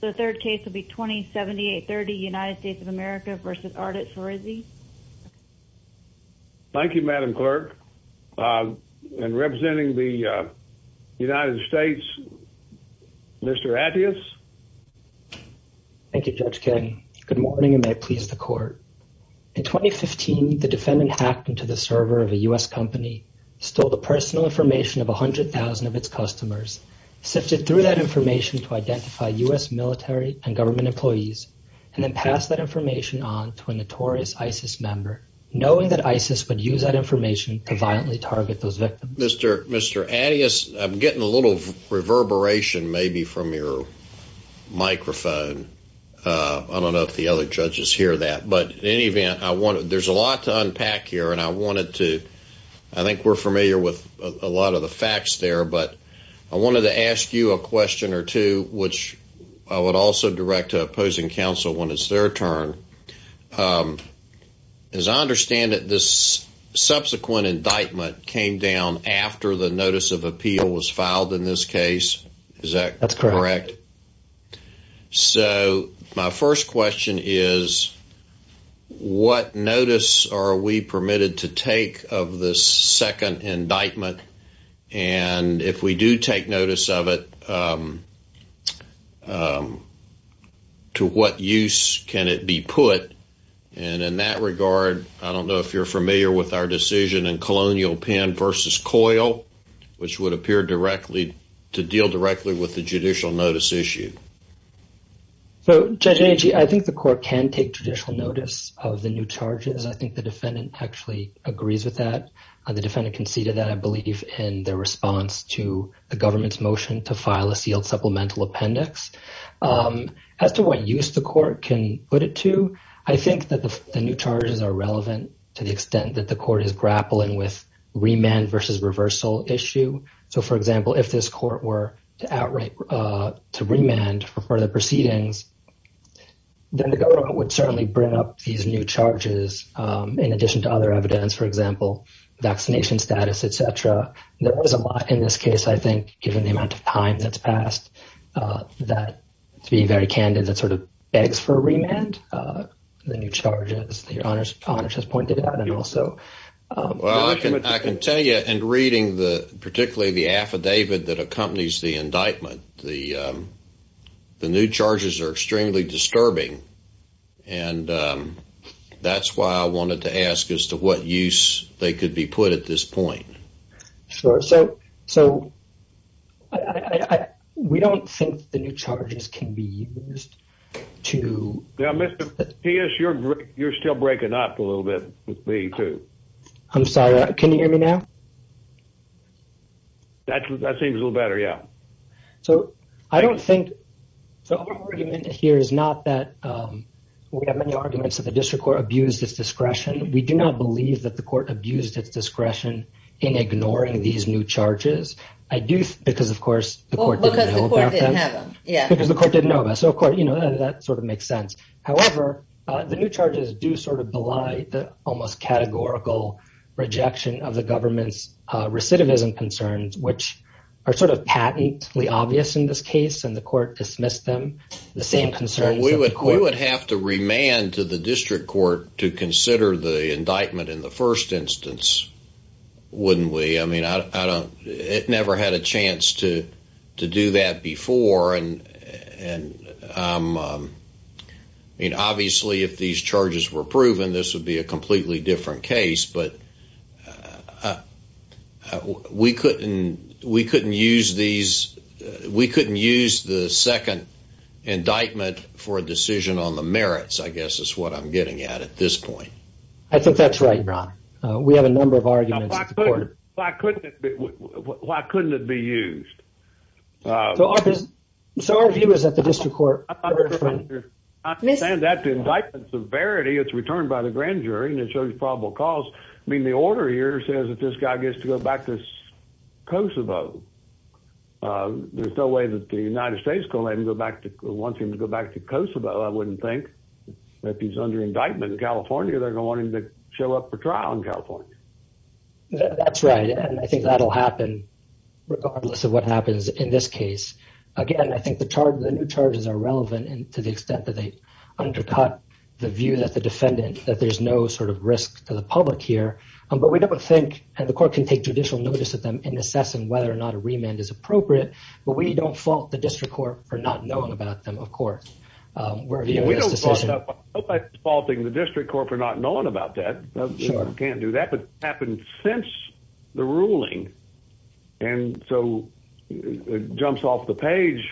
The third case will be 2078-30 United States of America v. Ardit Ferizi. Thank you, Madam Clerk. And representing the United States, Mr. Attias. Thank you, Judge King. Good morning, and may it please the Court. In 2015, the defendant hacked into the server of a U.S. company, stole the personal information of 100,000 of its customers, sifted through that information to identify U.S. military and government employees, and then passed that information on to a notorious ISIS member, knowing that ISIS would use that information to violently target those victims. Mr. Attias, I'm getting a little reverberation maybe from your microphone. I don't know if the other judges hear that. But in any event, there's a lot to unpack here, and I think we're familiar with a lot of the facts there. But I wanted to ask you a question or two, which I would also direct to opposing counsel when it's their turn. As I understand it, this subsequent indictment came down after the notice of appeal was filed in this case. Is that correct? That's correct. So my first question is, what notice are we permitted to take of this second indictment? And if we do take notice of it, to what use can it be put? And in that regard, I don't know if you're familiar with our decision in Colonial Pen v. Coil, which would appear to deal directly with the judicial notice issue. So, Judge Nancy, I think the court can take judicial notice of the new charges. I think the defendant actually agrees with that. The defendant conceded that, I believe, in their response to the government's motion to file a sealed supplemental appendix. As to what use the court can put it to, I think that the new charges are relevant to the extent that the court is grappling with remand versus reversal issue. So, for example, if this court were to remand for further proceedings, then the government would certainly bring up these new charges in addition to other evidence. For example, vaccination status, et cetera. There is a lot in this case, I think, given the amount of time that's passed, that to be very candid, that sort of begs for a remand. The new charges that Your Honor has pointed out and also- The new charges are extremely disturbing. And that's why I wanted to ask as to what use they could be put at this point. So, we don't think the new charges can be used to- Now, Mr. Pius, you're still breaking up a little bit with me, too. I'm sorry, can you hear me now? That seems a little better, yeah. So, I don't think- So, our argument here is not that- We have many arguments that the district court abused its discretion. We do not believe that the court abused its discretion in ignoring these new charges. I do, because, of course, the court didn't know about them. Because the court didn't have them, yeah. Because the court didn't know about them. So, of course, that sort of makes sense. However, the new charges do sort of belie the almost categorical rejection of the government's recidivism concerns, which are sort of patently obvious in this case. And the court dismissed them, the same concerns that the court- We would have to remand to the district court to consider the indictment in the first instance, wouldn't we? I mean, I don't- It never had a chance to do that before. And, I mean, obviously, if these charges were proven, this would be a completely different case. But we couldn't use these- We couldn't use the second indictment for a decision on the merits, I guess, is what I'm getting at at this point. I think that's right, Ron. We have a number of arguments- Why couldn't it be used? So our view is that the district court- I'm not saying that the indictment's a verity. It's returned by the grand jury, and it shows probable cause. I mean, the order here says that this guy gets to go back to Kosovo. There's no way that the United States is going to let him go back to- wants him to go back to Kosovo, I wouldn't think. If he's under indictment in California, they're going to want him to show up for trial in California. That's right, and I think that'll happen regardless of what happens in this case. Again, I think the new charges are relevant to the extent that they undercut the view that the defendant- that there's no sort of risk to the public here. But we don't think- And the court can take judicial notice of them in assessing whether or not a remand is appropriate. But we don't fault the district court for not knowing about them, of course. We're viewing this decision- We don't fault the district court for not knowing about that. Sure. We can't do that, but it happened since the ruling, and so it jumps off the page.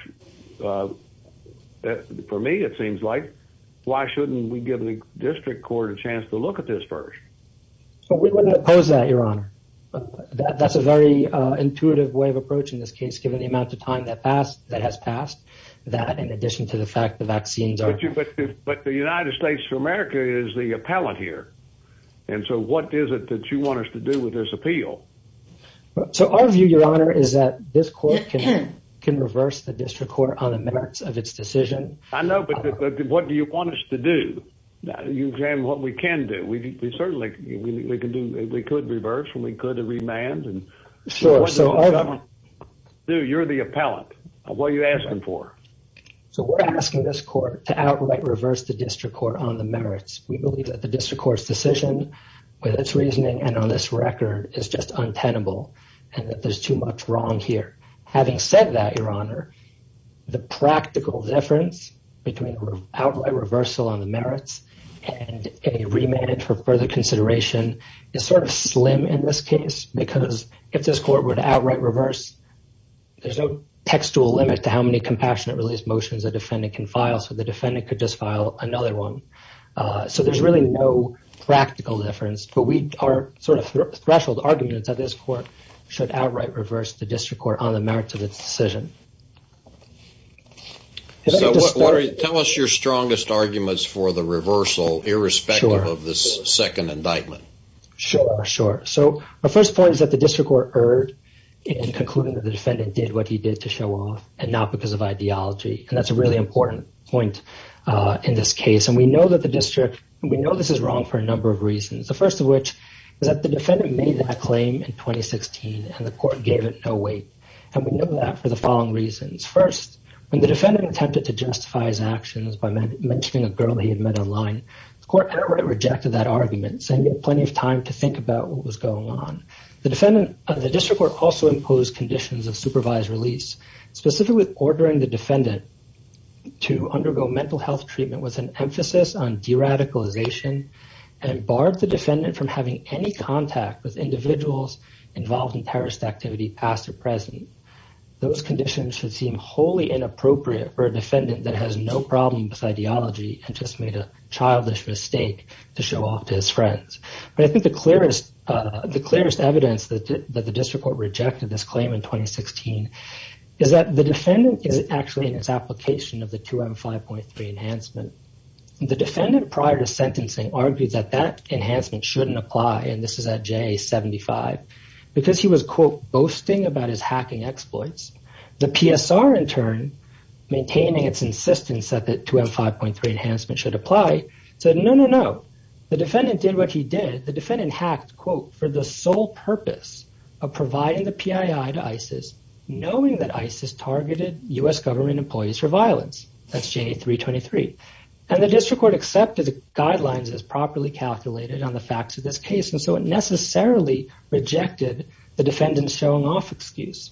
For me, it seems like, why shouldn't we give the district court a chance to look at this first? We wouldn't oppose that, Your Honor. That's a very intuitive way of approaching this case, given the amount of time that has passed, that in addition to the fact the vaccines are- But the United States of America is the appellant here, and so what is it that you want us to do with this appeal? So our view, Your Honor, is that this court can reverse the district court on the merits of its decision. I know, but what do you want us to do? You examine what we can do. We certainly can do- We could reverse, and we could remand. Sure, so our- You're the appellant. What are you asking for? So we're asking this court to outright reverse the district court on the merits. We believe that the district court's decision, with its reasoning and on this record, is just untenable, and that there's too much wrong here. Having said that, Your Honor, the practical difference between an outright reversal on the merits and a remand for further consideration is sort of slim in this case because if this court were to outright reverse, there's no textual limit to how many compassionate release motions a defendant can file, so the defendant could just file another one. So there's really no practical difference, but our sort of threshold argument is that this court should outright reverse the district court on the merits of its decision. Tell us your strongest arguments for the reversal, irrespective of this second indictment. Sure, sure. So our first point is that the district court erred in concluding that the defendant did what he did to show off and not because of ideology, and that's a really important point in this case, and we know that the district- We know this is wrong for a number of reasons, the first of which is that the defendant made that claim in 2016, and the court gave it no weight, and we know that for the following reasons. First, when the defendant attempted to justify his actions by mentioning a girl he had met online, the court outright rejected that argument, saying he had plenty of time to think about what was going on. The district court also imposed conditions of supervised release, specifically ordering the defendant to undergo mental health treatment with an emphasis on deradicalization and barred the defendant from having any contact with individuals involved in terrorist activity past or present. Those conditions should seem wholly inappropriate for a defendant that has no problem with ideology and just made a childish mistake to show off to his friends. But I think the clearest evidence that the district court rejected this claim in 2016 is that the defendant is actually in its application of the 2M5.3 enhancement. The defendant, prior to sentencing, argued that that enhancement shouldn't apply, and this is at J75, because he was, quote, boasting about his hacking exploits. The PSR, in turn, maintaining its insistence that the 2M5.3 enhancement should apply, said no, no, no. The defendant did what he did. The defendant hacked, quote, for the sole purpose of providing the PII to ISIS, knowing that ISIS targeted U.S. government employees for violence. That's J323. And the district court accepted the guidelines as properly calculated on the facts of this case, and so it necessarily rejected the defendant's showing off excuse.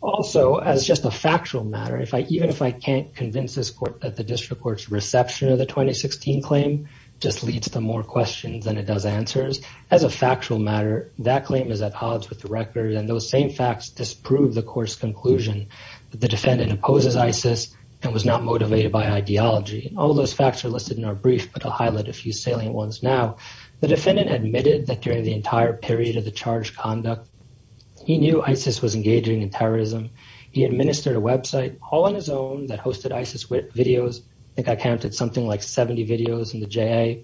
Also, as just a factual matter, even if I can't convince this court that the district court's reception of the 2016 claim just leads to more questions than it does answers, as a factual matter, that claim is at odds with the record, and those same facts disprove the court's conclusion that the defendant opposes ISIS and was not motivated by ideology. All those facts are listed in our brief, but I'll highlight a few salient ones now. The defendant admitted that during the entire period of the charged conduct, he knew ISIS was engaging in terrorism. He administered a website all on his own that hosted ISIS videos. I think I counted something like 70 videos in the JA.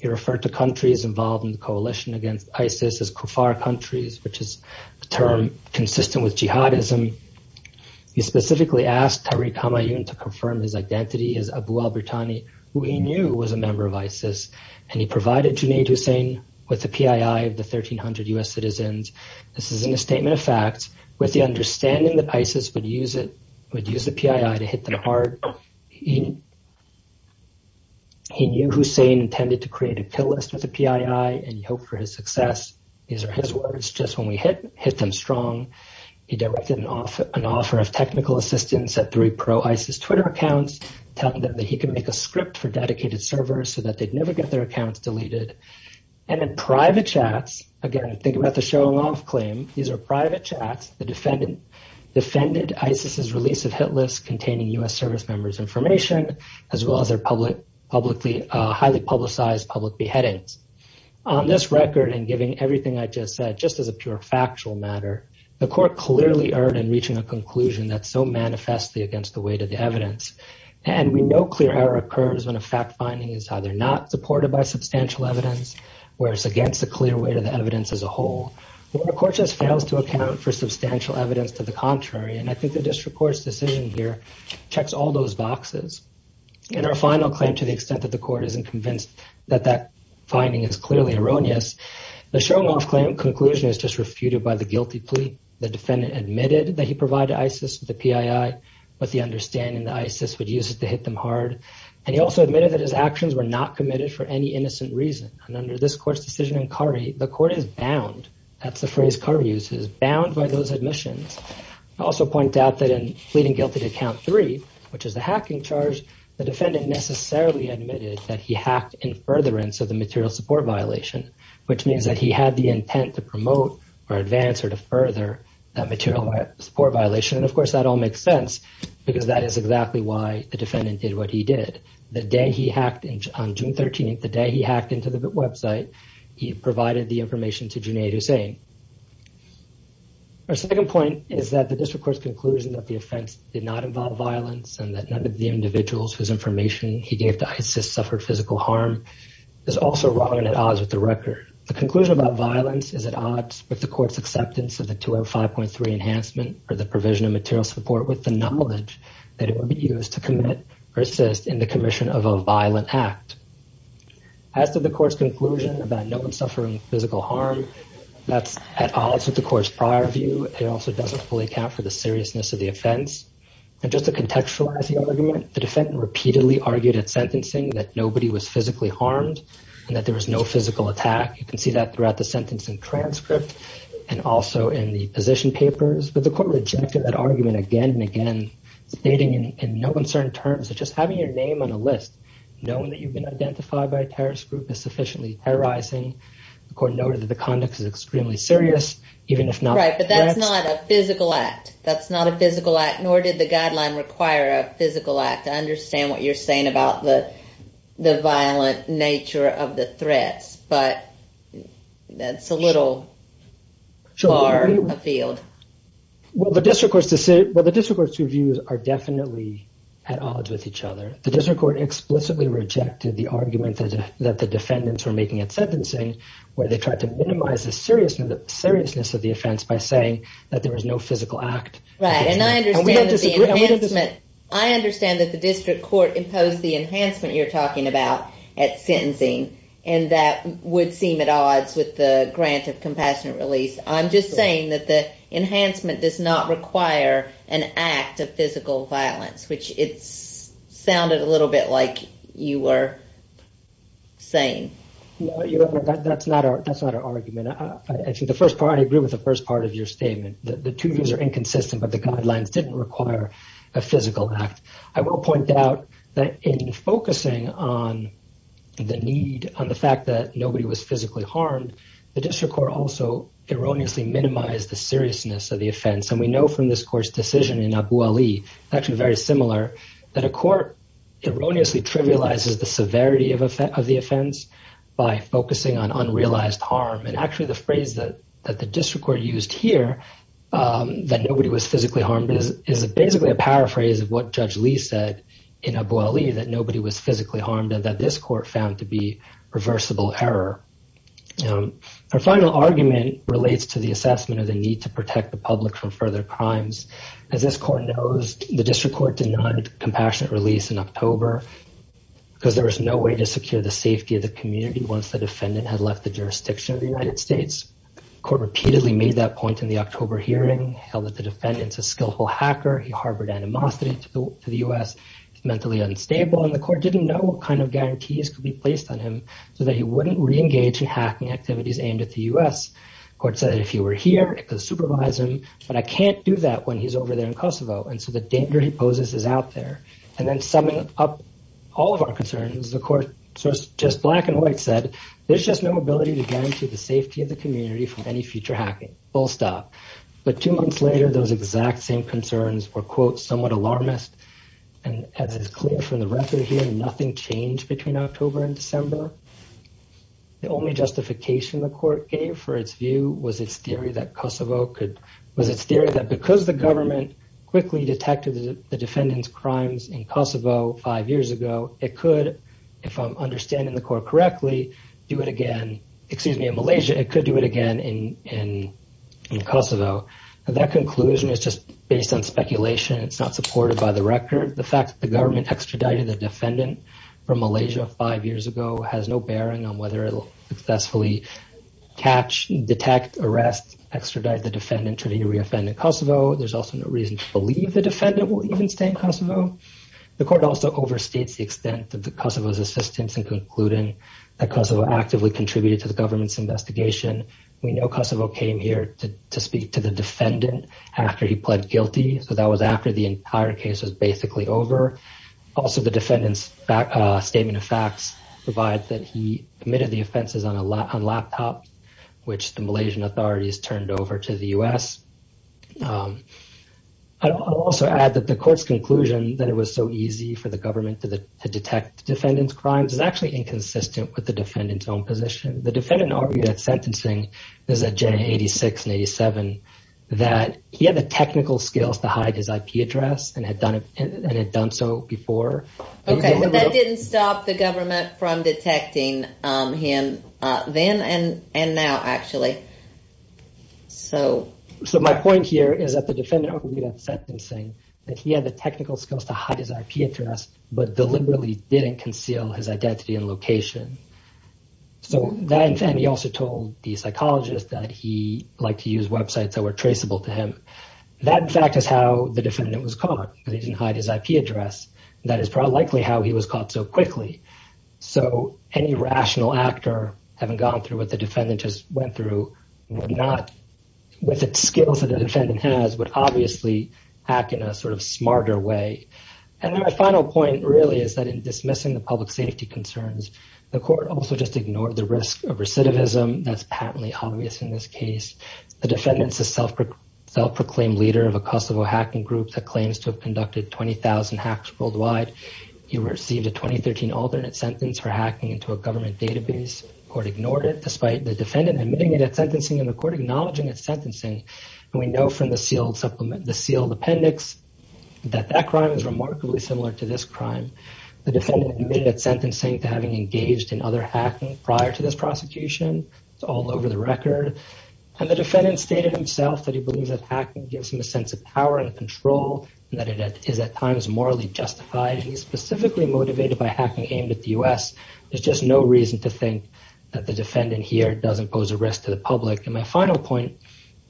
He referred to countries involved in the coalition against ISIS as kuffar countries, which is a term consistent with jihadism. He specifically asked Tariq Hamayoun to confirm his identity as Abu al-Burtani, who he knew was a member of ISIS, and he provided Junaid Hussein with the PII of the 1,300 U.S. citizens This is in a statement of facts. With the understanding that ISIS would use the PII to hit them hard, he knew Hussein intended to create a kill list with the PII and hoped for his success. These are his words. Just when we hit them strong, he directed an offer of technical assistance at three pro-ISIS Twitter accounts, telling them that he could make a script for dedicated servers so that they'd never get their accounts deleted. And then private chats. Again, think about the showing off claim. These are private chats that defended ISIS's release of hit lists containing U.S. service members' information, as well as their highly publicized public beheadings. On this record, and giving everything I just said just as a pure factual matter, the court clearly erred in reaching a conclusion that's so manifestly against the weight of the evidence. And we know clear error occurs when a fact-finding is either not supported by substantial evidence, or it's against the clear weight of the evidence as a whole. The court just fails to account for substantial evidence to the contrary, and I think the district court's decision here checks all those boxes. In our final claim, to the extent that the court isn't convinced that that finding is clearly erroneous, the showing off claim conclusion is just refuted by the guilty plea. The defendant admitted that he provided ISIS with the PII, with the understanding that ISIS would use it to hit them hard. And he also admitted that his actions were not committed for any innocent reason. And under this court's decision in Curry, the court is bound, that's the phrase Curry uses, bound by those admissions. I also point out that in pleading guilty to count three, which is the hacking charge, the defendant necessarily admitted that he hacked in furtherance of the material support violation, which means that he had the intent to promote or advance or to further that material support violation. And of course, that all makes sense, because that is exactly why the defendant did what he did. The day he hacked, on June 13th, the day he hacked into the website, he provided the information to Junaid Hussain. Our second point is that the district court's conclusion that the offense did not involve violence and that none of the individuals whose information he gave to ISIS suffered physical harm is also wrong and at odds with the record. The conclusion about violence is at odds with the court's acceptance of the 205.3 enhancement or the provision of material support with the knowledge that it would be used to commit or assist in the commission of a violent act. As to the court's conclusion about no one suffering physical harm, that's at odds with the court's prior view. It also doesn't fully account for the seriousness of the offense. And just to contextualize the argument, the defendant repeatedly argued at sentencing that nobody was physically harmed and that there was no physical attack. You can see that throughout the sentencing transcript and also in the position papers. But the court rejected that argument again and again, stating in no uncertain terms that just having your name on a list, knowing that you've been identified by a terrorist group, is sufficiently terrorizing. The court noted that the conduct is extremely serious, even if not threats. Right, but that's not a physical act. That's not a physical act, nor did the guideline require a physical act. I understand what you're saying about the violent nature of the threats, but that's a little far afield. Well, the district court's views are definitely at odds with each other. The district court explicitly rejected the argument that the defendants were making at sentencing, where they tried to minimize the seriousness of the offense by saying that there was no physical act. Right, and I understand that the district court imposed the enhancement you're talking about at sentencing and that would seem at odds with the grant of compassionate release. I'm just saying that the enhancement does not require an act of physical violence, which it sounded a little bit like you were saying. No, that's not our argument. I agree with the first part of your statement. The two views are inconsistent, but the guidelines didn't require a physical act. I will point out that in focusing on the need, on the fact that nobody was physically harmed, the district court also erroneously minimized the seriousness of the offense, and we know from this court's decision in Abu Ali, it's actually very similar, that a court erroneously trivializes the severity of the offense by focusing on unrealized harm, and actually the phrase that the district court used here, that nobody was physically harmed, is basically a paraphrase of what Judge Lee said in Abu Ali, that nobody was physically harmed and that this court found to be reversible error. Her final argument relates to the assessment of the need to protect the public from further crimes. As this court knows, the district court denied compassionate release in October because there was no way to secure the safety of the community once the defendant had left the jurisdiction of the United States. The court repeatedly made that point in the October hearing, held that the defendant is a skillful hacker, he harbored animosity to the U.S., mentally unstable, and the court didn't know what kind of guarantees could be placed on him so that he wouldn't re-engage in hacking activities aimed at the U.S. The court said that if he were here, it could supervise him, but I can't do that when he's over there in Kosovo, and so the danger he poses is out there. And then summing up all of our concerns, the court, just black and white, said there's just no ability to guarantee the safety of the community from any future hacking, full stop. But two months later, those exact same concerns were, quote, somewhat alarmist, and as is clear from the record here, nothing changed between October and December. The only justification the court gave for its view was its theory that Kosovo could, was its theory that because the government quickly detected the defendant's crimes in Kosovo five years ago, it could, if I'm understanding the court correctly, do it again, excuse me, in Malaysia, it could do it again in Kosovo. That conclusion is just based on speculation. It's not supported by the record. The fact that the government extradited the defendant from Malaysia five years ago has no bearing on whether it will successfully catch, detect, arrest, extradite the defendant to re-offend in Kosovo. There's also no reason to believe the defendant will even stay in Kosovo. The court also overstates the extent of Kosovo's assistance in concluding that Kosovo actively contributed to the government's investigation. We know Kosovo came here to speak to the defendant after he pled guilty, so that was after the entire case was basically over. Also, the defendant's statement of facts provides that he committed the offenses on a laptop, which the Malaysian authorities turned over to the U.S. I'll also add that the court's conclusion that it was so easy for the government to detect the defendant's crimes is actually inconsistent with the defendant's own position. The defendant argued at sentencing, this is at J86 and J87, that he had the technical skills to hide his IP address and had done so before. Okay, but that didn't stop the government from detecting him then and now, actually. My point here is that the defendant argued at sentencing that he had the technical skills to hide his IP address, but deliberately didn't conceal his identity and location. He also told the psychologist that he liked to use websites that were traceable to him. That, in fact, is how the defendant was caught, because he didn't hide his IP address. That is likely how he was caught so quickly. So any rational actor, having gone through what the defendant just went through, with the skills that the defendant has, would obviously act in a smarter way. My final point, really, is that in dismissing the public safety concerns, the court also just ignored the risk of recidivism. That's patently obvious in this case. The defendant's a self-proclaimed leader of a Kosovo hacking group that claims to have conducted 20,000 hacks worldwide. He received a 2013 alternate sentence for hacking into a government database. The court ignored it, despite the defendant admitting it at sentencing and the court acknowledging at sentencing. We know from the sealed appendix that that crime is remarkably similar to this crime. The defendant admitted at sentencing to having engaged in other hacking prior to this prosecution. It's all over the record. The defendant stated himself that he believes that hacking gives him a sense of power and control and that it is at times morally justified. He's specifically motivated by hacking aimed at the U.S. There's just no reason to think that the defendant here doesn't pose a risk to the public. And my final point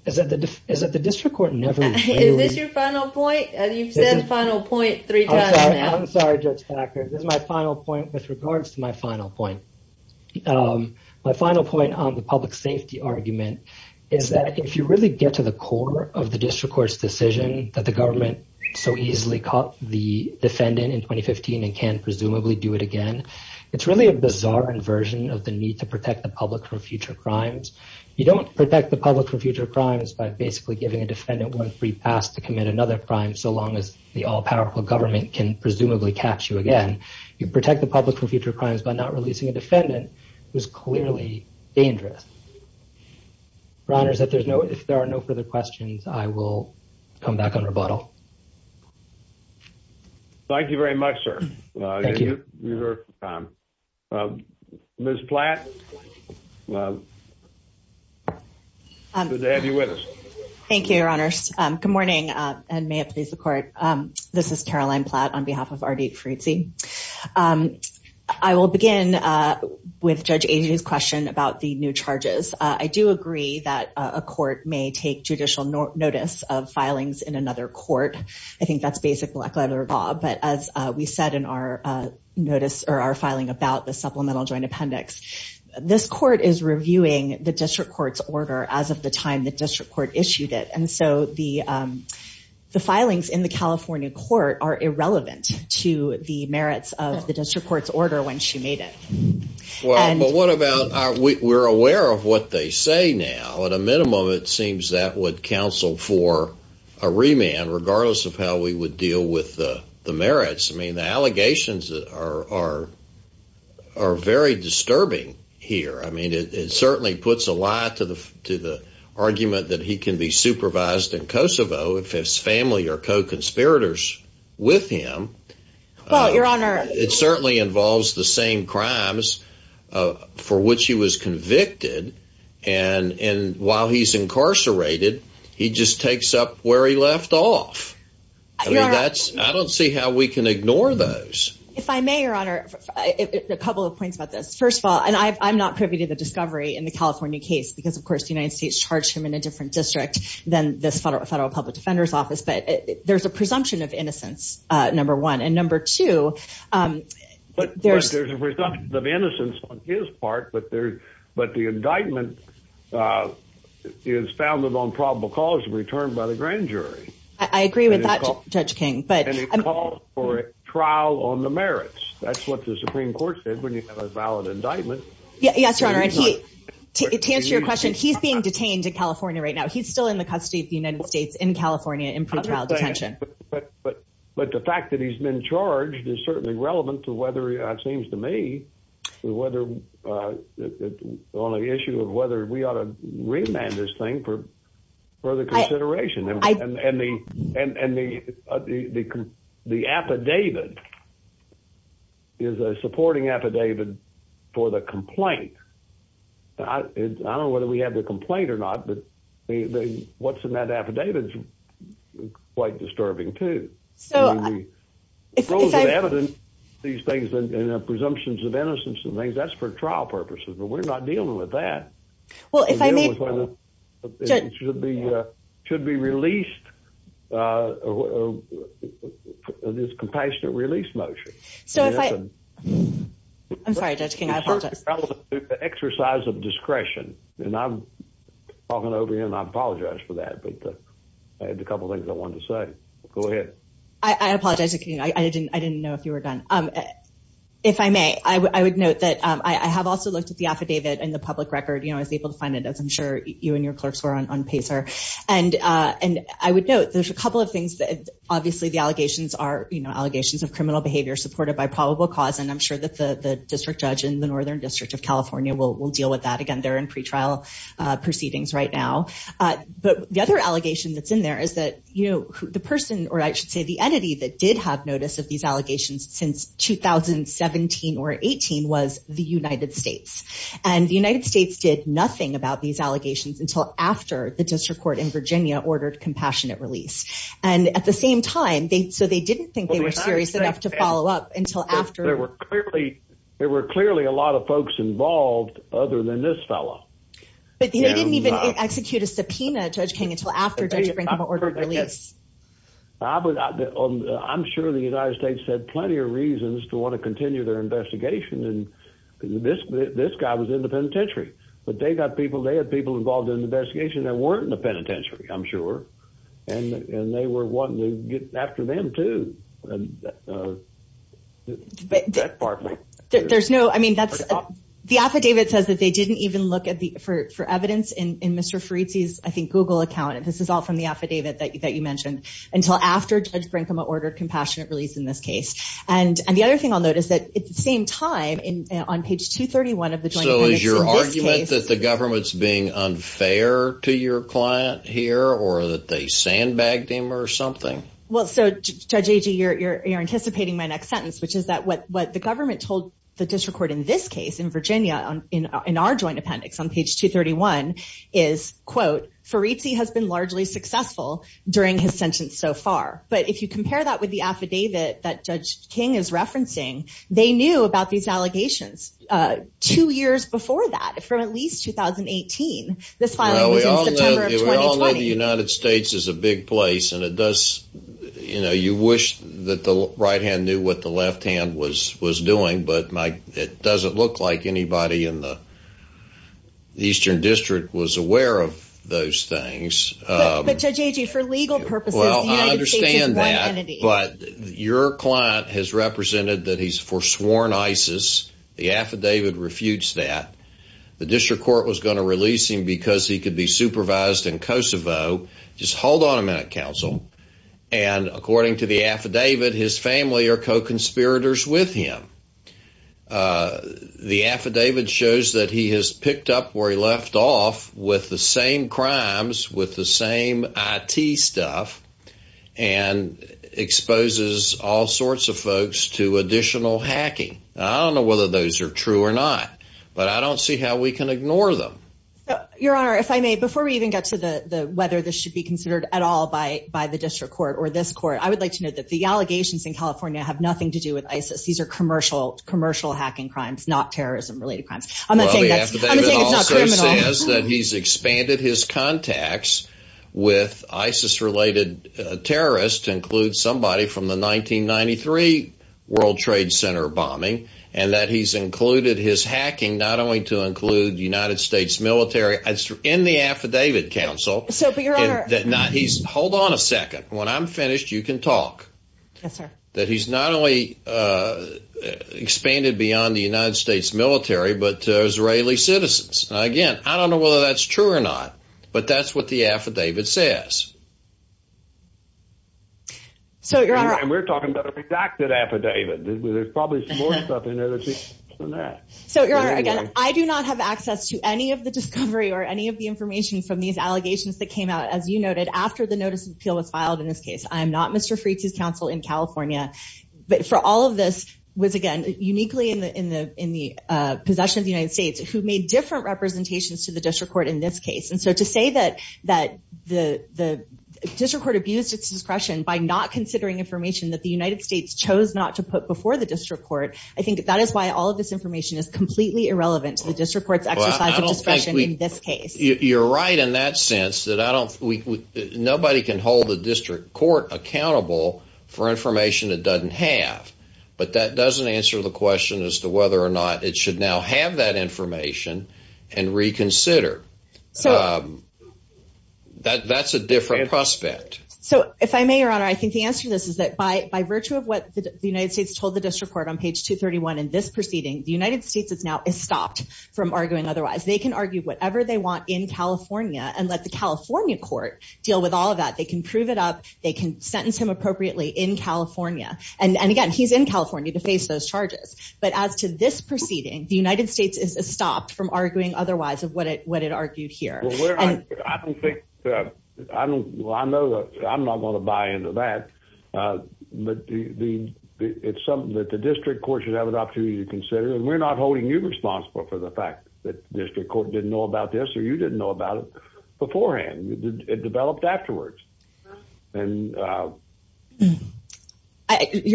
is that the district court never— Is this your final point? You've said final point three times now. I'm sorry, Judge Packard. This is my final point with regards to my final point. My final point on the public safety argument is that if you really get to the core of the district court's decision that the government so easily caught the defendant in 2015 and can presumably do it again, it's really a bizarre inversion of the need to protect the public from future crimes. You don't protect the public from future crimes by basically giving a defendant one free pass to commit another crime so long as the all-powerful government can presumably catch you again. You protect the public from future crimes by not releasing a defendant who is clearly dangerous. Your Honor, if there are no further questions, I will come back on rebuttal. Thank you very much, sir. Thank you. Ms. Platt, good to have you with us. Thank you, Your Honors. Good morning, and may it please the Court. This is Caroline Platt on behalf of R.D. Caruzzi. I will begin with Judge Agnew's question about the new charges. I do agree that a court may take judicial notice of filings in another court. I think that's basic black-letter law, but as we said in our filing about the supplemental joint appendix, this court is reviewing the district court's order as of the time the district court issued it, and so the filings in the California court are irrelevant to the merits of the district court's order when she made it. We're aware of what they say now. At a minimum, it seems that would counsel for a remand, regardless of how we would deal with the merits. I mean, the allegations are very disturbing here. I mean, it certainly puts a lie to the argument that he can be supervised in Kosovo if his family are co-conspirators with him. Well, Your Honor. It certainly involves the same crimes for which he was convicted, and while he's incarcerated, he just takes up where he left off. I don't see how we can ignore those. If I may, Your Honor, a couple of points about this. First of all, and I'm not privy to the discovery in the California case because, of course, the United States charged him in a different district than this federal public defender's office, but there's a presumption of innocence, number one. And number two, there's a presumption of innocence on his part, but the indictment is founded on probable cause of return by the grand jury. I agree with that, Judge King. And it calls for a trial on the merits. That's what the Supreme Court said when you have a valid indictment. Yes, Your Honor. To answer your question, he's being detained in California right now. He's still in the custody of the United States in California in pretrial detention. But the fact that he's been charged is certainly relevant to whether it seems to me on the issue of whether we ought to remand this thing for further consideration. And the affidavit is a supporting affidavit for the complaint. I don't know whether we have the complaint or not, but what's in that affidavit is quite disturbing, too. So if I— Rules of evidence, these things, and presumptions of innocence and things, that's for trial purposes, but we're not dealing with that. Well, if I may— It should be released, this compassionate release motion. I'm sorry, Judge King, I apologize. The exercise of discretion, and I'm talking over you, and I apologize for that, but I had a couple of things I wanted to say. Go ahead. I apologize. I didn't know if you were done. If I may, I would note that I have also looked at the affidavit and the public record. I was able to find it, as I'm sure you and your clerks were on PACER. And I would note there's a couple of things that— obviously, the allegations are allegations of criminal behavior supported by probable cause, and I'm sure that the district judge in the Northern District of California will deal with that. Again, they're in pretrial proceedings right now. But the other allegation that's in there is that the person, or I should say the entity, that did have notice of these allegations since 2017 or 2018 was the United States. And the United States did nothing about these allegations until after the district court in Virginia ordered compassionate release. And at the same time, so they didn't think they were serious enough to follow up until after— There were clearly a lot of folks involved other than this fellow. But they didn't even execute a subpoena, Judge King, until after Judge Brinkman ordered release. I'm sure the United States had plenty of reasons to want to continue their investigation. And this guy was in the penitentiary. But they got people—they had people involved in the investigation that weren't in the penitentiary, I'm sure. And they were wanting to get after them, too. That part might— There's no—I mean, that's—the affidavit says that they didn't even look for evidence in Mr. Farizi's, I think, Google account. And this is all from the affidavit that you mentioned, until after Judge Brinkman ordered compassionate release in this case. And the other thing I'll note is that at the same time, on page 231 of the joint evidence in this case— So is your argument that the government's being unfair to your client here or that they sandbagged him or something? Well, so, Judge Agee, you're anticipating my next sentence, which is that what the government told the district court in this case in Virginia, in our joint appendix on page 231, is, quote, Farizi has been largely successful during his sentence so far. But if you compare that with the affidavit that Judge King is referencing, they knew about these allegations two years before that, from at least 2018. This filing was in September of 2020. Well, the United States is a big place, and it does— you know, you wish that the right hand knew what the left hand was doing, but it doesn't look like anybody in the Eastern District was aware of those things. But, Judge Agee, for legal purposes, the United States is one entity. Well, I understand that, but your client has represented that he's forsworn ISIS. The affidavit refutes that. The district court was going to release him because he could be supervised in Kosovo. Just hold on a minute, counsel. And according to the affidavit, his family are co-conspirators with him. The affidavit shows that he has picked up where he left off with the same crimes, with the same IT stuff, and exposes all sorts of folks to additional hacking. I don't know whether those are true or not, but I don't see how we can ignore them. Your Honor, if I may, before we even get to whether this should be considered at all by the district court or this court, I would like to note that the allegations in California have nothing to do with ISIS. These are commercial hacking crimes, not terrorism-related crimes. Well, the affidavit also says that he's expanded his contacts with ISIS-related terrorists, to include somebody from the 1993 World Trade Center bombing, and that he's included his hacking not only to include United States military in the affidavit, counsel. Hold on a second. When I'm finished, you can talk. Yes, sir. That he's not only expanded beyond the United States military, but Israeli citizens. Again, I don't know whether that's true or not, but that's what the affidavit says. We're talking about a redacted affidavit. There's probably more stuff in there than that. Your Honor, again, I do not have access to any of the discovery or any of the information from these allegations that came out, as you noted, after the notice of appeal was filed in this case. I am not Mr. Frietze's counsel in California. For all of this was, again, uniquely in the possession of the United States, who made different representations to the district court in this case. And so to say that the district court abused its discretion by not considering information that the United States chose not to put before the district court, I think that is why all of this information is completely irrelevant to the district court's exercise of discretion in this case. You're right in that sense that nobody can hold the district court accountable for information it doesn't have. But that doesn't answer the question as to whether or not it should now have that information and reconsider. That's a different prospect. So if I may, Your Honor, I think the answer to this is that by virtue of what the United States told the district court on page 231 in this proceeding, the United States now is stopped from arguing otherwise. They can argue whatever they want in California and let the California court deal with all of that. They can prove it up. They can sentence him appropriately in California. And, again, he's in California to face those charges. But as to this proceeding, the United States is stopped from arguing otherwise of what it argued here. I'm not going to buy into that. But it's something that the district court should have an opportunity to consider. And we're not holding you responsible for the fact that the district court didn't know about this or you didn't know about it beforehand. It developed afterwards. Your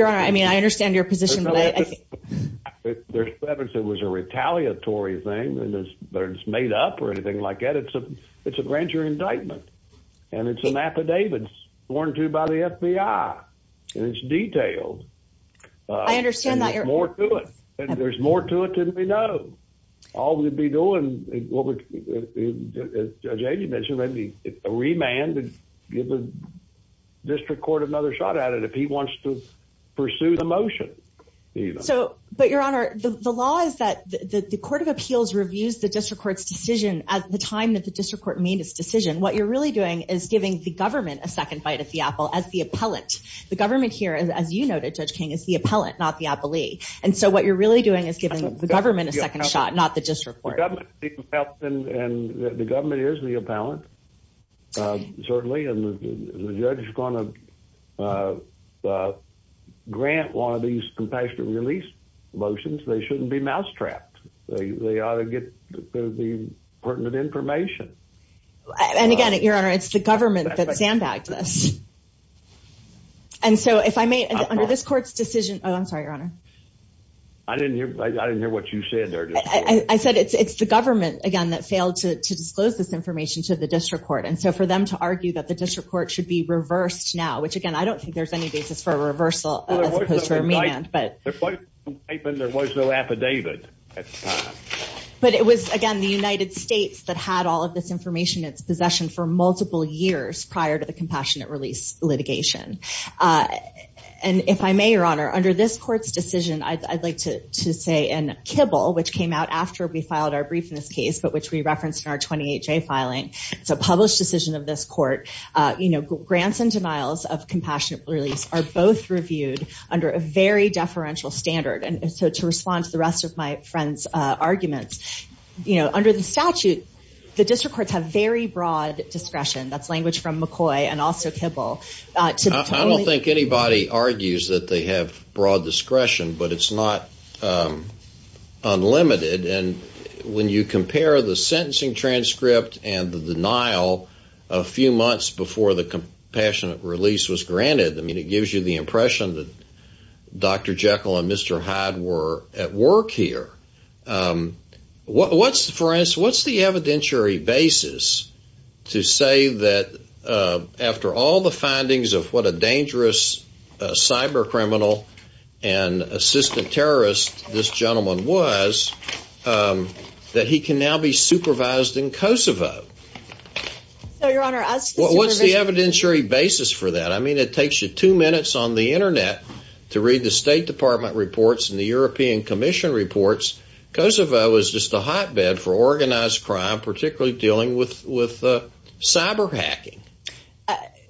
Honor, I mean, I understand your position. There was a retaliatory thing, but it's made up or anything like that. It's a grand jury indictment. And it's an affidavit sworn to by the FBI. And it's detailed. I understand that. And there's more to it than we know. All we'd be doing, as Judge Agee mentioned, is maybe a remand and give the district court another shot at it if he wants to pursue the motion. But, Your Honor, the law is that the court of appeals reviews the district court's decision at the time that the district court made its decision. What you're really doing is giving the government a second bite at the apple as the appellant. The government here, as you noted, Judge King, is the appellant, not the appellee. And so what you're really doing is giving the government a second shot, not the district court. And the government is the appellant, certainly. And the judge is going to grant one of these compassionate release motions. They shouldn't be mousetrapped. They ought to get the pertinent information. And, again, Your Honor, it's the government that sandbagged this. And so if I may, under this court's decision – oh, I'm sorry, Your Honor. I didn't hear what you said there. I said it's the government, again, that failed to disclose this information to the district court. And so for them to argue that the district court should be reversed now, which, again, I don't think there's any basis for a reversal as opposed to a mean end. There was no indictment. There was no affidavit. But it was, again, the United States that had all of this information in its possession for multiple years prior to the compassionate release litigation. And if I may, Your Honor, under this court's decision, I'd like to say in Kibble, which came out after we filed our brief in this case, but which we referenced in our 28-J filing. It's a published decision of this court. Grants and denials of compassionate release are both reviewed under a very deferential standard. And so to respond to the rest of my friend's arguments, under the statute, the district courts have very broad discretion. That's language from McCoy and also Kibble. I don't think anybody argues that they have broad discretion, but it's not unlimited. And when you compare the sentencing transcript and the denial a few months before the compassionate release was granted, I mean, it gives you the impression that Dr. Jekyll and Mr. Hyde were at work here. What's the evidentiary basis to say that after all the findings of what a system terrorist this gentleman was, that he can now be supervised in Kosovo? So, Your Honor, as to the supervision. What's the evidentiary basis for that? I mean, it takes you two minutes on the Internet to read the State Department reports and the European Commission reports. Kosovo is just a hotbed for organized crime, particularly dealing with cyber hacking.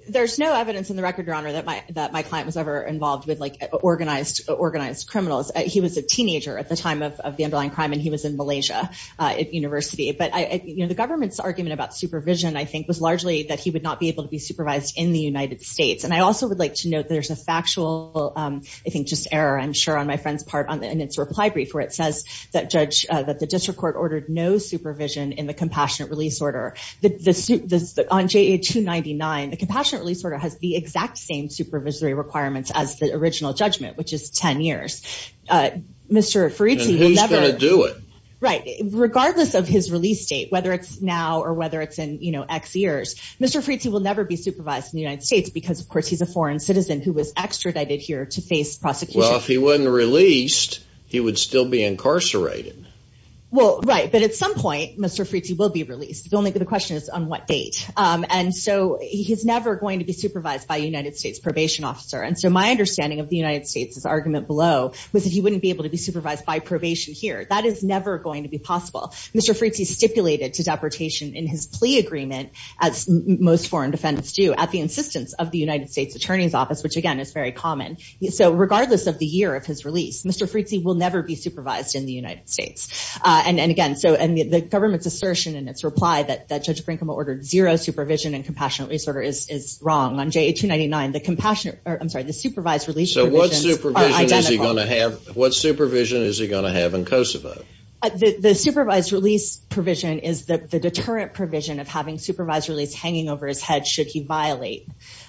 There's no evidence in the record, Your Honor, that my client was ever involved with organized criminals. He was a teenager at the time of the underlying crime, and he was in Malaysia at university. But the government's argument about supervision, I think, was largely that he would not be able to be supervised in the United States. And I also would like to note there's a factual, I think, just error, I'm sure on my friend's part, in its reply brief, where it says that the district court ordered no supervision in the compassionate release order. On JA-299, the compassionate release order has the exact same supervisory requirements as the original judgment, which is 10 years. Mr. Fritsi will never – And who's going to do it? Right. Regardless of his release date, whether it's now or whether it's in X years, Mr. Fritsi will never be supervised in the United States because, of course, he's a foreign citizen who was extradited here to face prosecution. Well, if he wasn't released, he would still be incarcerated. Well, right. But at some point, Mr. Fritsi will be released. The only question is on what date. And so he's never going to be supervised by a United States probation officer. And so my understanding of the United States' argument below was that he wouldn't be able to be supervised by probation here. That is never going to be possible. Mr. Fritsi stipulated to deportation in his plea agreement, as most foreign defendants do, at the insistence of the United States Attorney's Office, which, again, is very common. So regardless of the year of his release, Mr. Fritsi will never be supervised in the United States. And, again, so – in its reply that Judge Brinkman ordered zero supervision and compassionate release order is wrong. On JA-299, the compassionate – I'm sorry, the supervised release provisions are identical. So what supervision is he going to have in Kosovo? The supervised release provision is the deterrent provision of having supervised release hanging over his head should he violate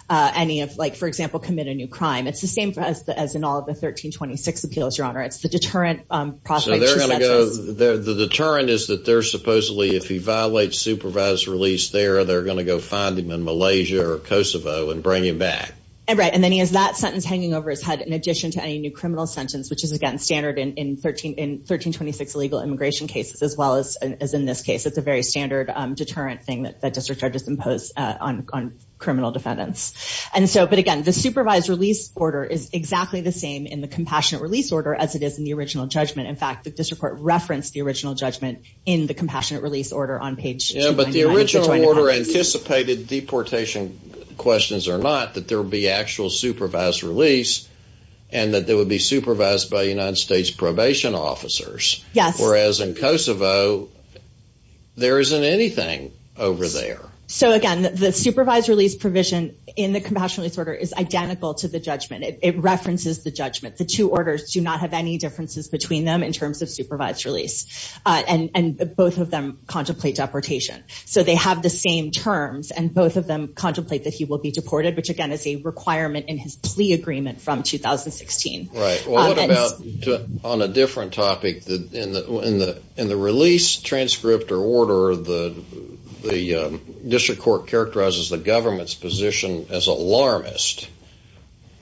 any of, like, for example, commit a new crime. It's the same as in all of the 1326 appeals, Your Honor. It's the deterrent process. The deterrent is that they're supposedly, if he violates supervised release there, they're going to go find him in Malaysia or Kosovo and bring him back. Right. And then he has that sentence hanging over his head in addition to any new criminal sentence, which is, again, standard in 1326 illegal immigration cases as well as in this case. It's a very standard deterrent thing that district judges impose on criminal defendants. And so – but, again, the supervised release order is exactly the same in the compassionate release order as it is in the original judgment. In fact, the district court referenced the original judgment in the compassionate release order on page 299. Yeah, but the original order anticipated deportation questions or not, that there would be actual supervised release and that they would be supervised by United States probation officers. Yes. Whereas in Kosovo, there isn't anything over there. So, again, the supervised release provision in the compassionate release order is identical to the judgment. It references the judgment. The two orders do not have any differences between them in terms of supervised release, and both of them contemplate deportation. So they have the same terms, and both of them contemplate that he will be deported, which, again, is a requirement in his plea agreement from 2016. Right. Well, what about on a different topic? In the release transcript or order, the district court characterizes the government's position as alarmist.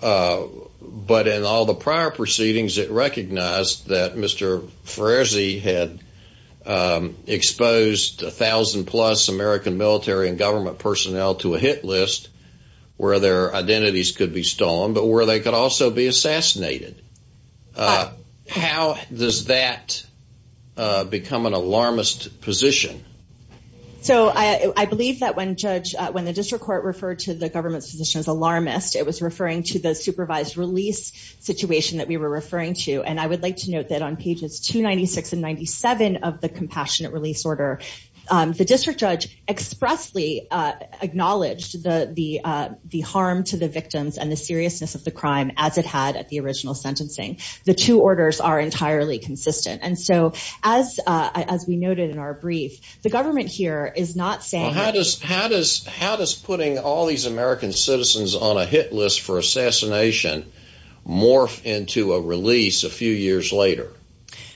But in all the prior proceedings, it recognized that Mr. Ferrezi had exposed a thousand-plus American military and government personnel to a hit list where their identities could be stolen but where they could also be assassinated. How does that become an alarmist position? So I believe that when the district court referred to the government's position as alarmist, it was referring to the supervised release situation that we were referring to. And I would like to note that on pages 296 and 97 of the compassionate release order, the district judge expressly acknowledged the harm to the victims and the seriousness of the crime as it had at the original sentencing. The two orders are entirely consistent. And so, as we noted in our brief, the government here is not saying that We're not going to release them. So how does putting all these American citizens on a hit list for assassination morph into a release a few years later?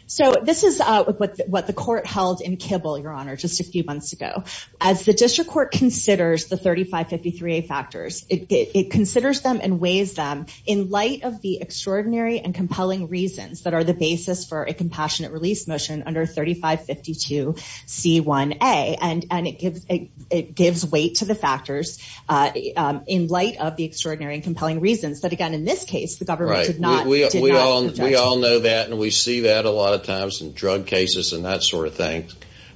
So this is what the court held in Kibble, Your Honor, just a few months ago. As the district court considers the 3553A factors, it considers them and weighs them in light of the extraordinary and compelling reasons that are the basis for a compassionate release motion under 3552C1A. And it gives weight to the factors in light of the extraordinary and compelling reasons that, again, in this case, the government did not We all know that, and we see that a lot of times in drug cases and that sort of thing.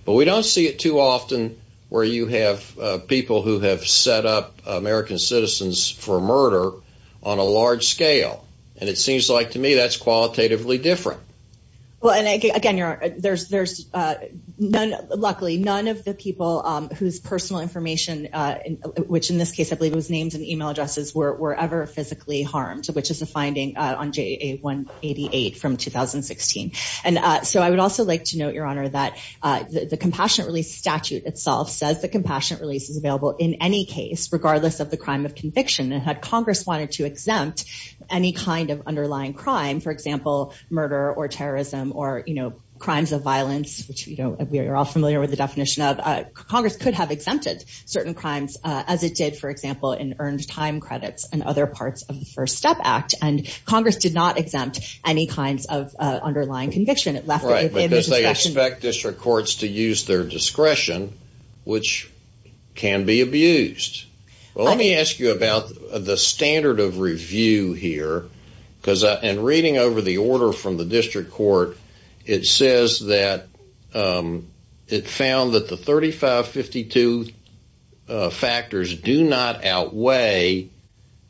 But we don't see it too often where you have people who have set up American citizens for murder on a large scale. And it seems like, to me, that's qualitatively different. Well, and again, Your Honor, there's luckily none of the people whose personal information, which in this case, I believe it was names and email addresses, were ever physically harmed, which is a finding on JA188 from 2016. And so I would also like to note, Your Honor, that the compassionate release statute itself says the compassionate release is available in any case, regardless of the crime of conviction. And had Congress wanted to exempt any kind of underlying crime, for example, murder or terrorism or crimes of violence, which we are all familiar with the definition of, Congress could have exempted certain crimes, as it did, for example, in earned time credits and other parts of the First Step Act. And Congress did not exempt any kinds of underlying conviction. Right, because they expect district courts to use their discretion, which can be abused. Well, let me ask you about the standard of review here. Because in reading over the order from the district court, it says that it found that the 3552 factors do not outweigh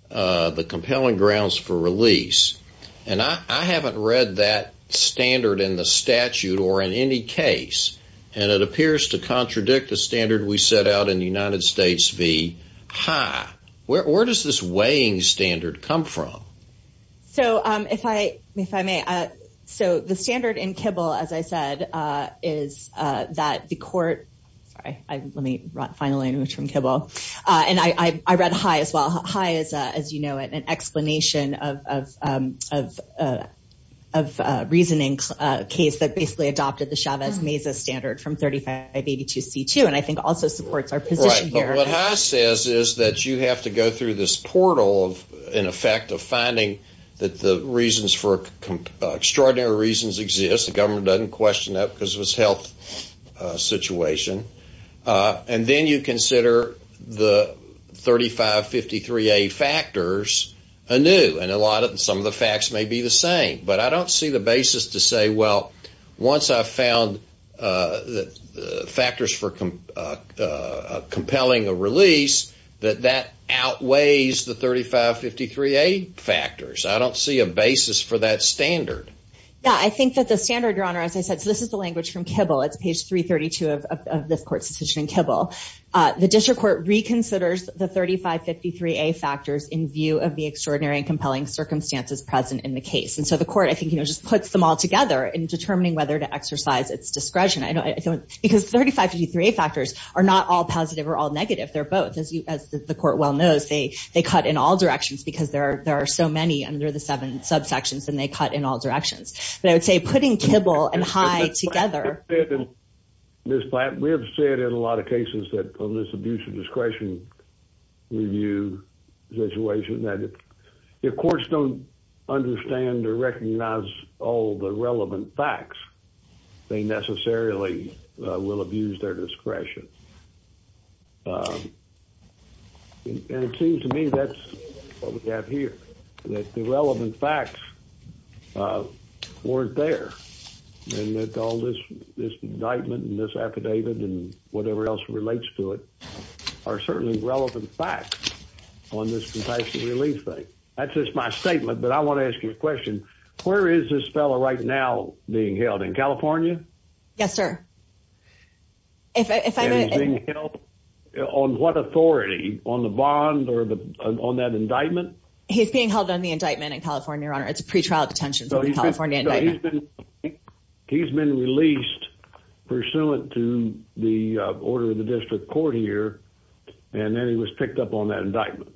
the compelling grounds for release. And I haven't read that standard in the statute or in any case. And it appears to contradict the standard we set out in United States v. High. Where does this weighing standard come from? So if I may, so the standard in Kibble, as I said, is that the court – sorry, let me finally move to Kibble. And I read High as well. High is, as you know, an explanation of a reasoning case that basically adopted the Chavez-Meza standard from 3582C2, and I think also supports our position here. But what High says is that you have to go through this portal, in effect, of finding that the reasons for – extraordinary reasons exist. The government doesn't question that because of its health situation. And then you consider the 3553A factors anew. And some of the facts may be the same. But I don't see the basis to say, well, once I've found factors for compelling a release, that that outweighs the 3553A factors. I don't see a basis for that standard. Yeah, I think that the standard, Your Honor, as I said – so this is the language from Kibble. It's page 332 of this court's decision in Kibble. The district court reconsiders the 3553A factors in view of the extraordinary and compelling circumstances present in the case. And so the court, I think, you know, just puts them all together in determining whether to exercise its discretion. Because 3553A factors are not all positive or all negative. They're both. As the court well knows, they cut in all directions because there are so many under the seven subsections, and they cut in all directions. But I would say putting Kibble and High together – Ms. Platt, we have said in a lot of cases that from this abuse of discretion review situation that if courts don't understand or recognize all the relevant facts, they necessarily will abuse their discretion. And it seems to me that's what we have here, that the relevant facts weren't there, and that all this indictment and this affidavit and whatever else relates to it are certainly relevant facts on this compassion relief thing. That's just my statement, but I want to ask you a question. Where is this fellow right now being held? In California? Yes, sir. And he's being held on what authority? On the bond or on that indictment? He's being held on the indictment in California, Your Honor. It's a pretrial detention for the California indictment. He's been released pursuant to the order of the district court here, and then he was picked up on that indictment.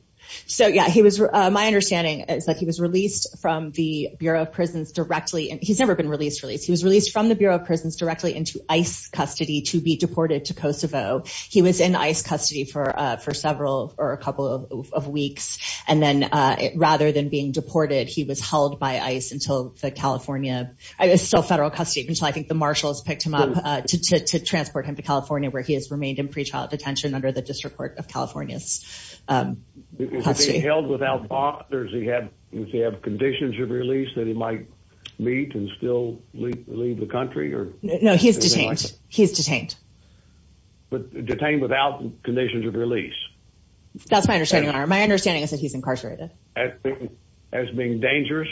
My understanding is that he was released from the Bureau of Prisons directly – he's never been released. He was released from the Bureau of Prisons directly into ICE custody to be deported to Kosovo. He was in ICE custody for several – or a couple of weeks. And then rather than being deported, he was held by ICE until the California – it was still federal custody until I think the marshals picked him up to transport him to California where he has remained in pretrial detention under the district court of California's custody. Is he held without bond, or does he have conditions of release that he might meet and still leave the country? No, he's detained. He's detained. But detained without conditions of release? That's my understanding, Your Honor. My understanding is that he's incarcerated. As being dangerous?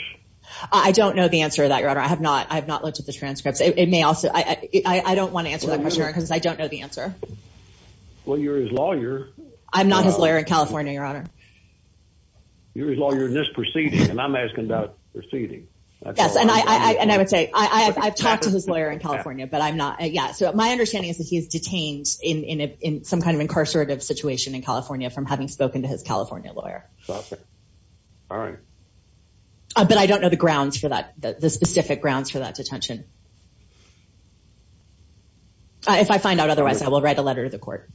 I don't know the answer to that, Your Honor. I have not looked at the transcripts. It may also – I don't want to answer that question, Your Honor, because I don't know the answer. Well, you're his lawyer. I'm not his lawyer in California, Your Honor. You're his lawyer in this proceeding, and I'm asking about the proceeding. Yes, and I would say I've talked to his lawyer in California, but I'm not – yeah, so my understanding is that he's detained in some kind of incarcerative situation in California from having spoken to his California lawyer. All right. But I don't know the grounds for that, the specific grounds for that detention. If I find out otherwise, I will write a letter to the court.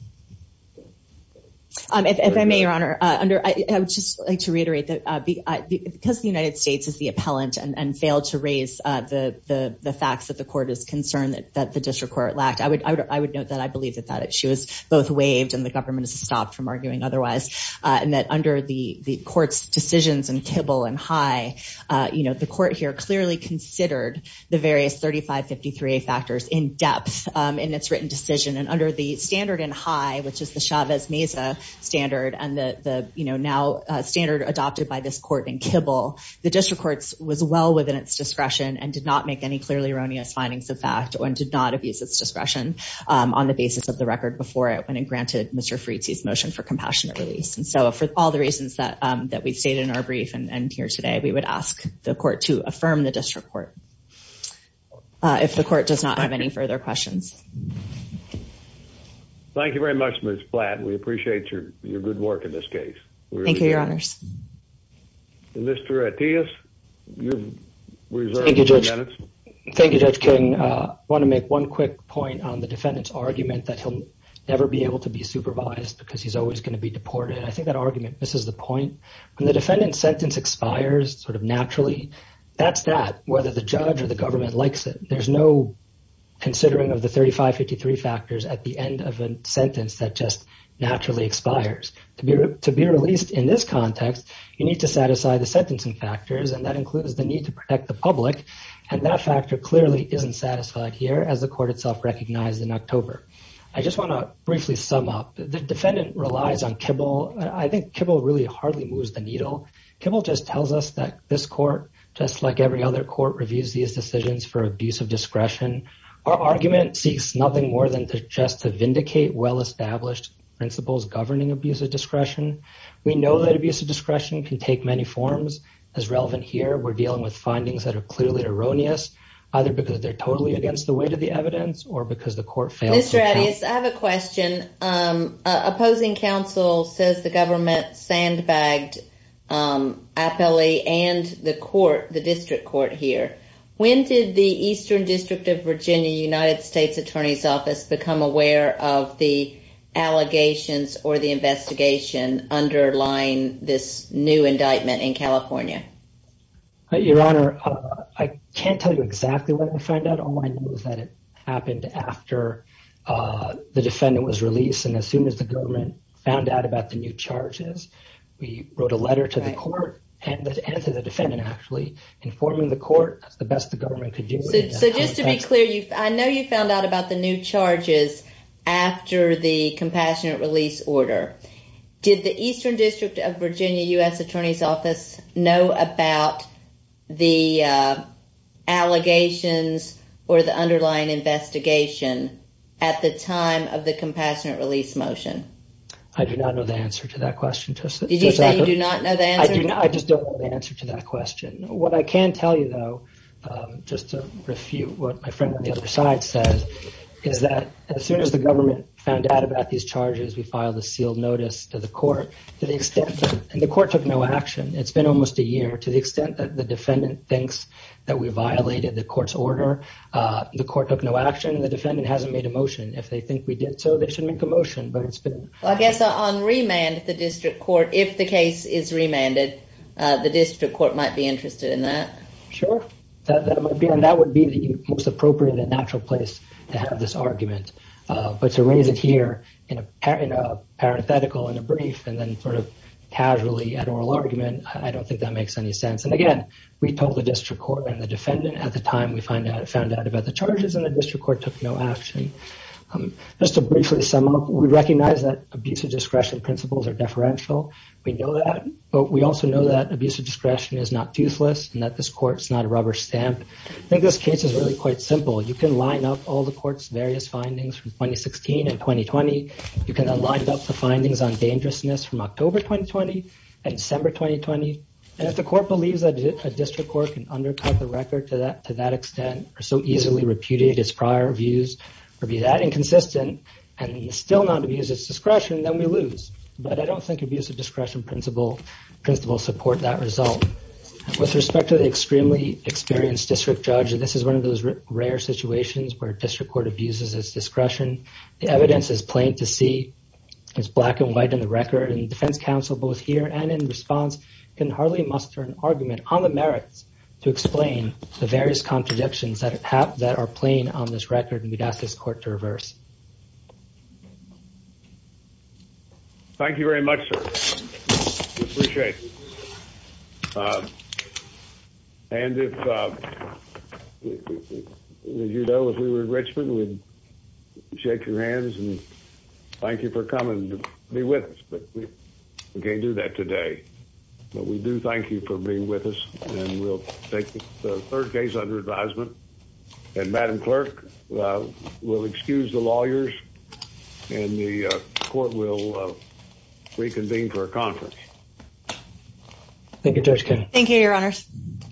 If I may, Your Honor, I would just like to reiterate that because the United States is the appellant and failed to raise the facts that the court is concerned that the district court lacked, I would note that I believe that she was both waived and the government has stopped from arguing otherwise, and that under the court's decisions in Kibble and High, the court here clearly considered the various 3553A factors in depth in its written decision, and under the standard in High, which is the Chavez-Mesa standard, and the now standard adopted by this court in Kibble, the district court was well within its discretion and did not make any clearly erroneous findings of fact and did not abuse its discretion on the basis of the record before it when it granted Mr. Fritzi's motion for compassionate release. And so for all the reasons that we've stated in our brief and here today, we would ask the court to affirm the district court if the court does not have any further questions. Thank you very much, Ms. Blatt. We appreciate your good work in this case. Thank you, Your Honors. Mr. Attias, you've reserved a few minutes. Thank you, Judge King. I want to make one quick point on the defendant's argument that he'll never be able to be supervised because he's always going to be deported. I think that argument misses the point. When the defendant's sentence expires sort of naturally, that's that, whether the judge or the government likes it. There's no considering of the 3553 factors at the end of a sentence that just naturally expires. To be released in this context, you need to satisfy the sentencing factors, and that includes the need to protect the public, and that factor clearly isn't satisfied here as the court itself recognized in October. I just want to briefly sum up. The defendant relies on Kibble. I think Kibble really hardly moves the needle. Kibble just tells us that this court, just like every other court, reviews these decisions for abuse of discretion. Our argument seeks nothing more than just to vindicate well-established principles governing abuse of discretion. We know that abuse of discretion can take many forms. As relevant here, we're dealing with findings that are clearly erroneous, either because they're totally against the weight of the evidence or because the court fails to count. Mr. Attias, I have a question. Opposing counsel says the government sandbagged Appellee and the court, the district court here. When did the Eastern District of Virginia United States Attorney's Office become aware of the allegations or the investigation underlying this new indictment in California? Your Honor, I can't tell you exactly what I found out. All I know is that it happened after the defendant was released, and as soon as the government found out about the new charges, we wrote a letter to the court and to the defendant, actually, informing the court the best the government could do. So just to be clear, I know you found out about the new charges after the compassionate release order. Did the Eastern District of Virginia U.S. Attorney's Office know about the allegations or the underlying investigation at the time of the compassionate release motion? I do not know the answer to that question. Did you say you do not know the answer? I just don't know the answer to that question. What I can tell you, though, just to refute what my friend on the other side says, is that as soon as the government found out about these charges, we filed a sealed notice to the court to the extent that the court took no action. It's been almost a year. To the extent that the defendant thinks that we violated the court's order, the court took no action. The defendant hasn't made a motion. If they think we did so, they should make a motion. I guess on remand at the district court, if the case is remanded, the district court might be interested in that. That would be the most appropriate and natural place to have this argument. But to raise it here in a parenthetical, in a brief, and then sort of casually at oral argument, I don't think that makes any sense. Again, we told the district court and the defendant at the time we found out about the charges, and the district court took no action. Just to briefly sum up, we recognize that abusive discretion principles are deferential. We know that, but we also know that abusive discretion is not toothless and that this court is not a rubber stamp. I think this case is really quite simple. You can line up all the court's various findings from 2016 and 2020. You can line up the findings on dangerousness from October 2020 and December 2020. If the court believes that a district court can undercut the record to that extent or so easily repudiate its prior views or be that inconsistent and still not abuse its discretion, then we lose. But I don't think abusive discretion principles support that result. With respect to the extremely experienced district judge, this is one of those rare situations where a district court abuses its discretion. The evidence is plain to see. It's black and white on the record, and the defense counsel both here and in response can hardly muster an argument on the merits to explain the various contradictions that are plain on this record, and we'd ask this court to reverse. Thank you very much, sir. We appreciate it. And as you know, if we were in Richmond, we'd shake your hands and thank you for coming to be with us, but we can't do that today. But we do thank you for being with us, and we'll take the third case under advisement, and Madam Clerk, we'll excuse the lawyers, and the court will reconvene for a conference. Thank you, Judge Kennedy. Thank you, Your Honors.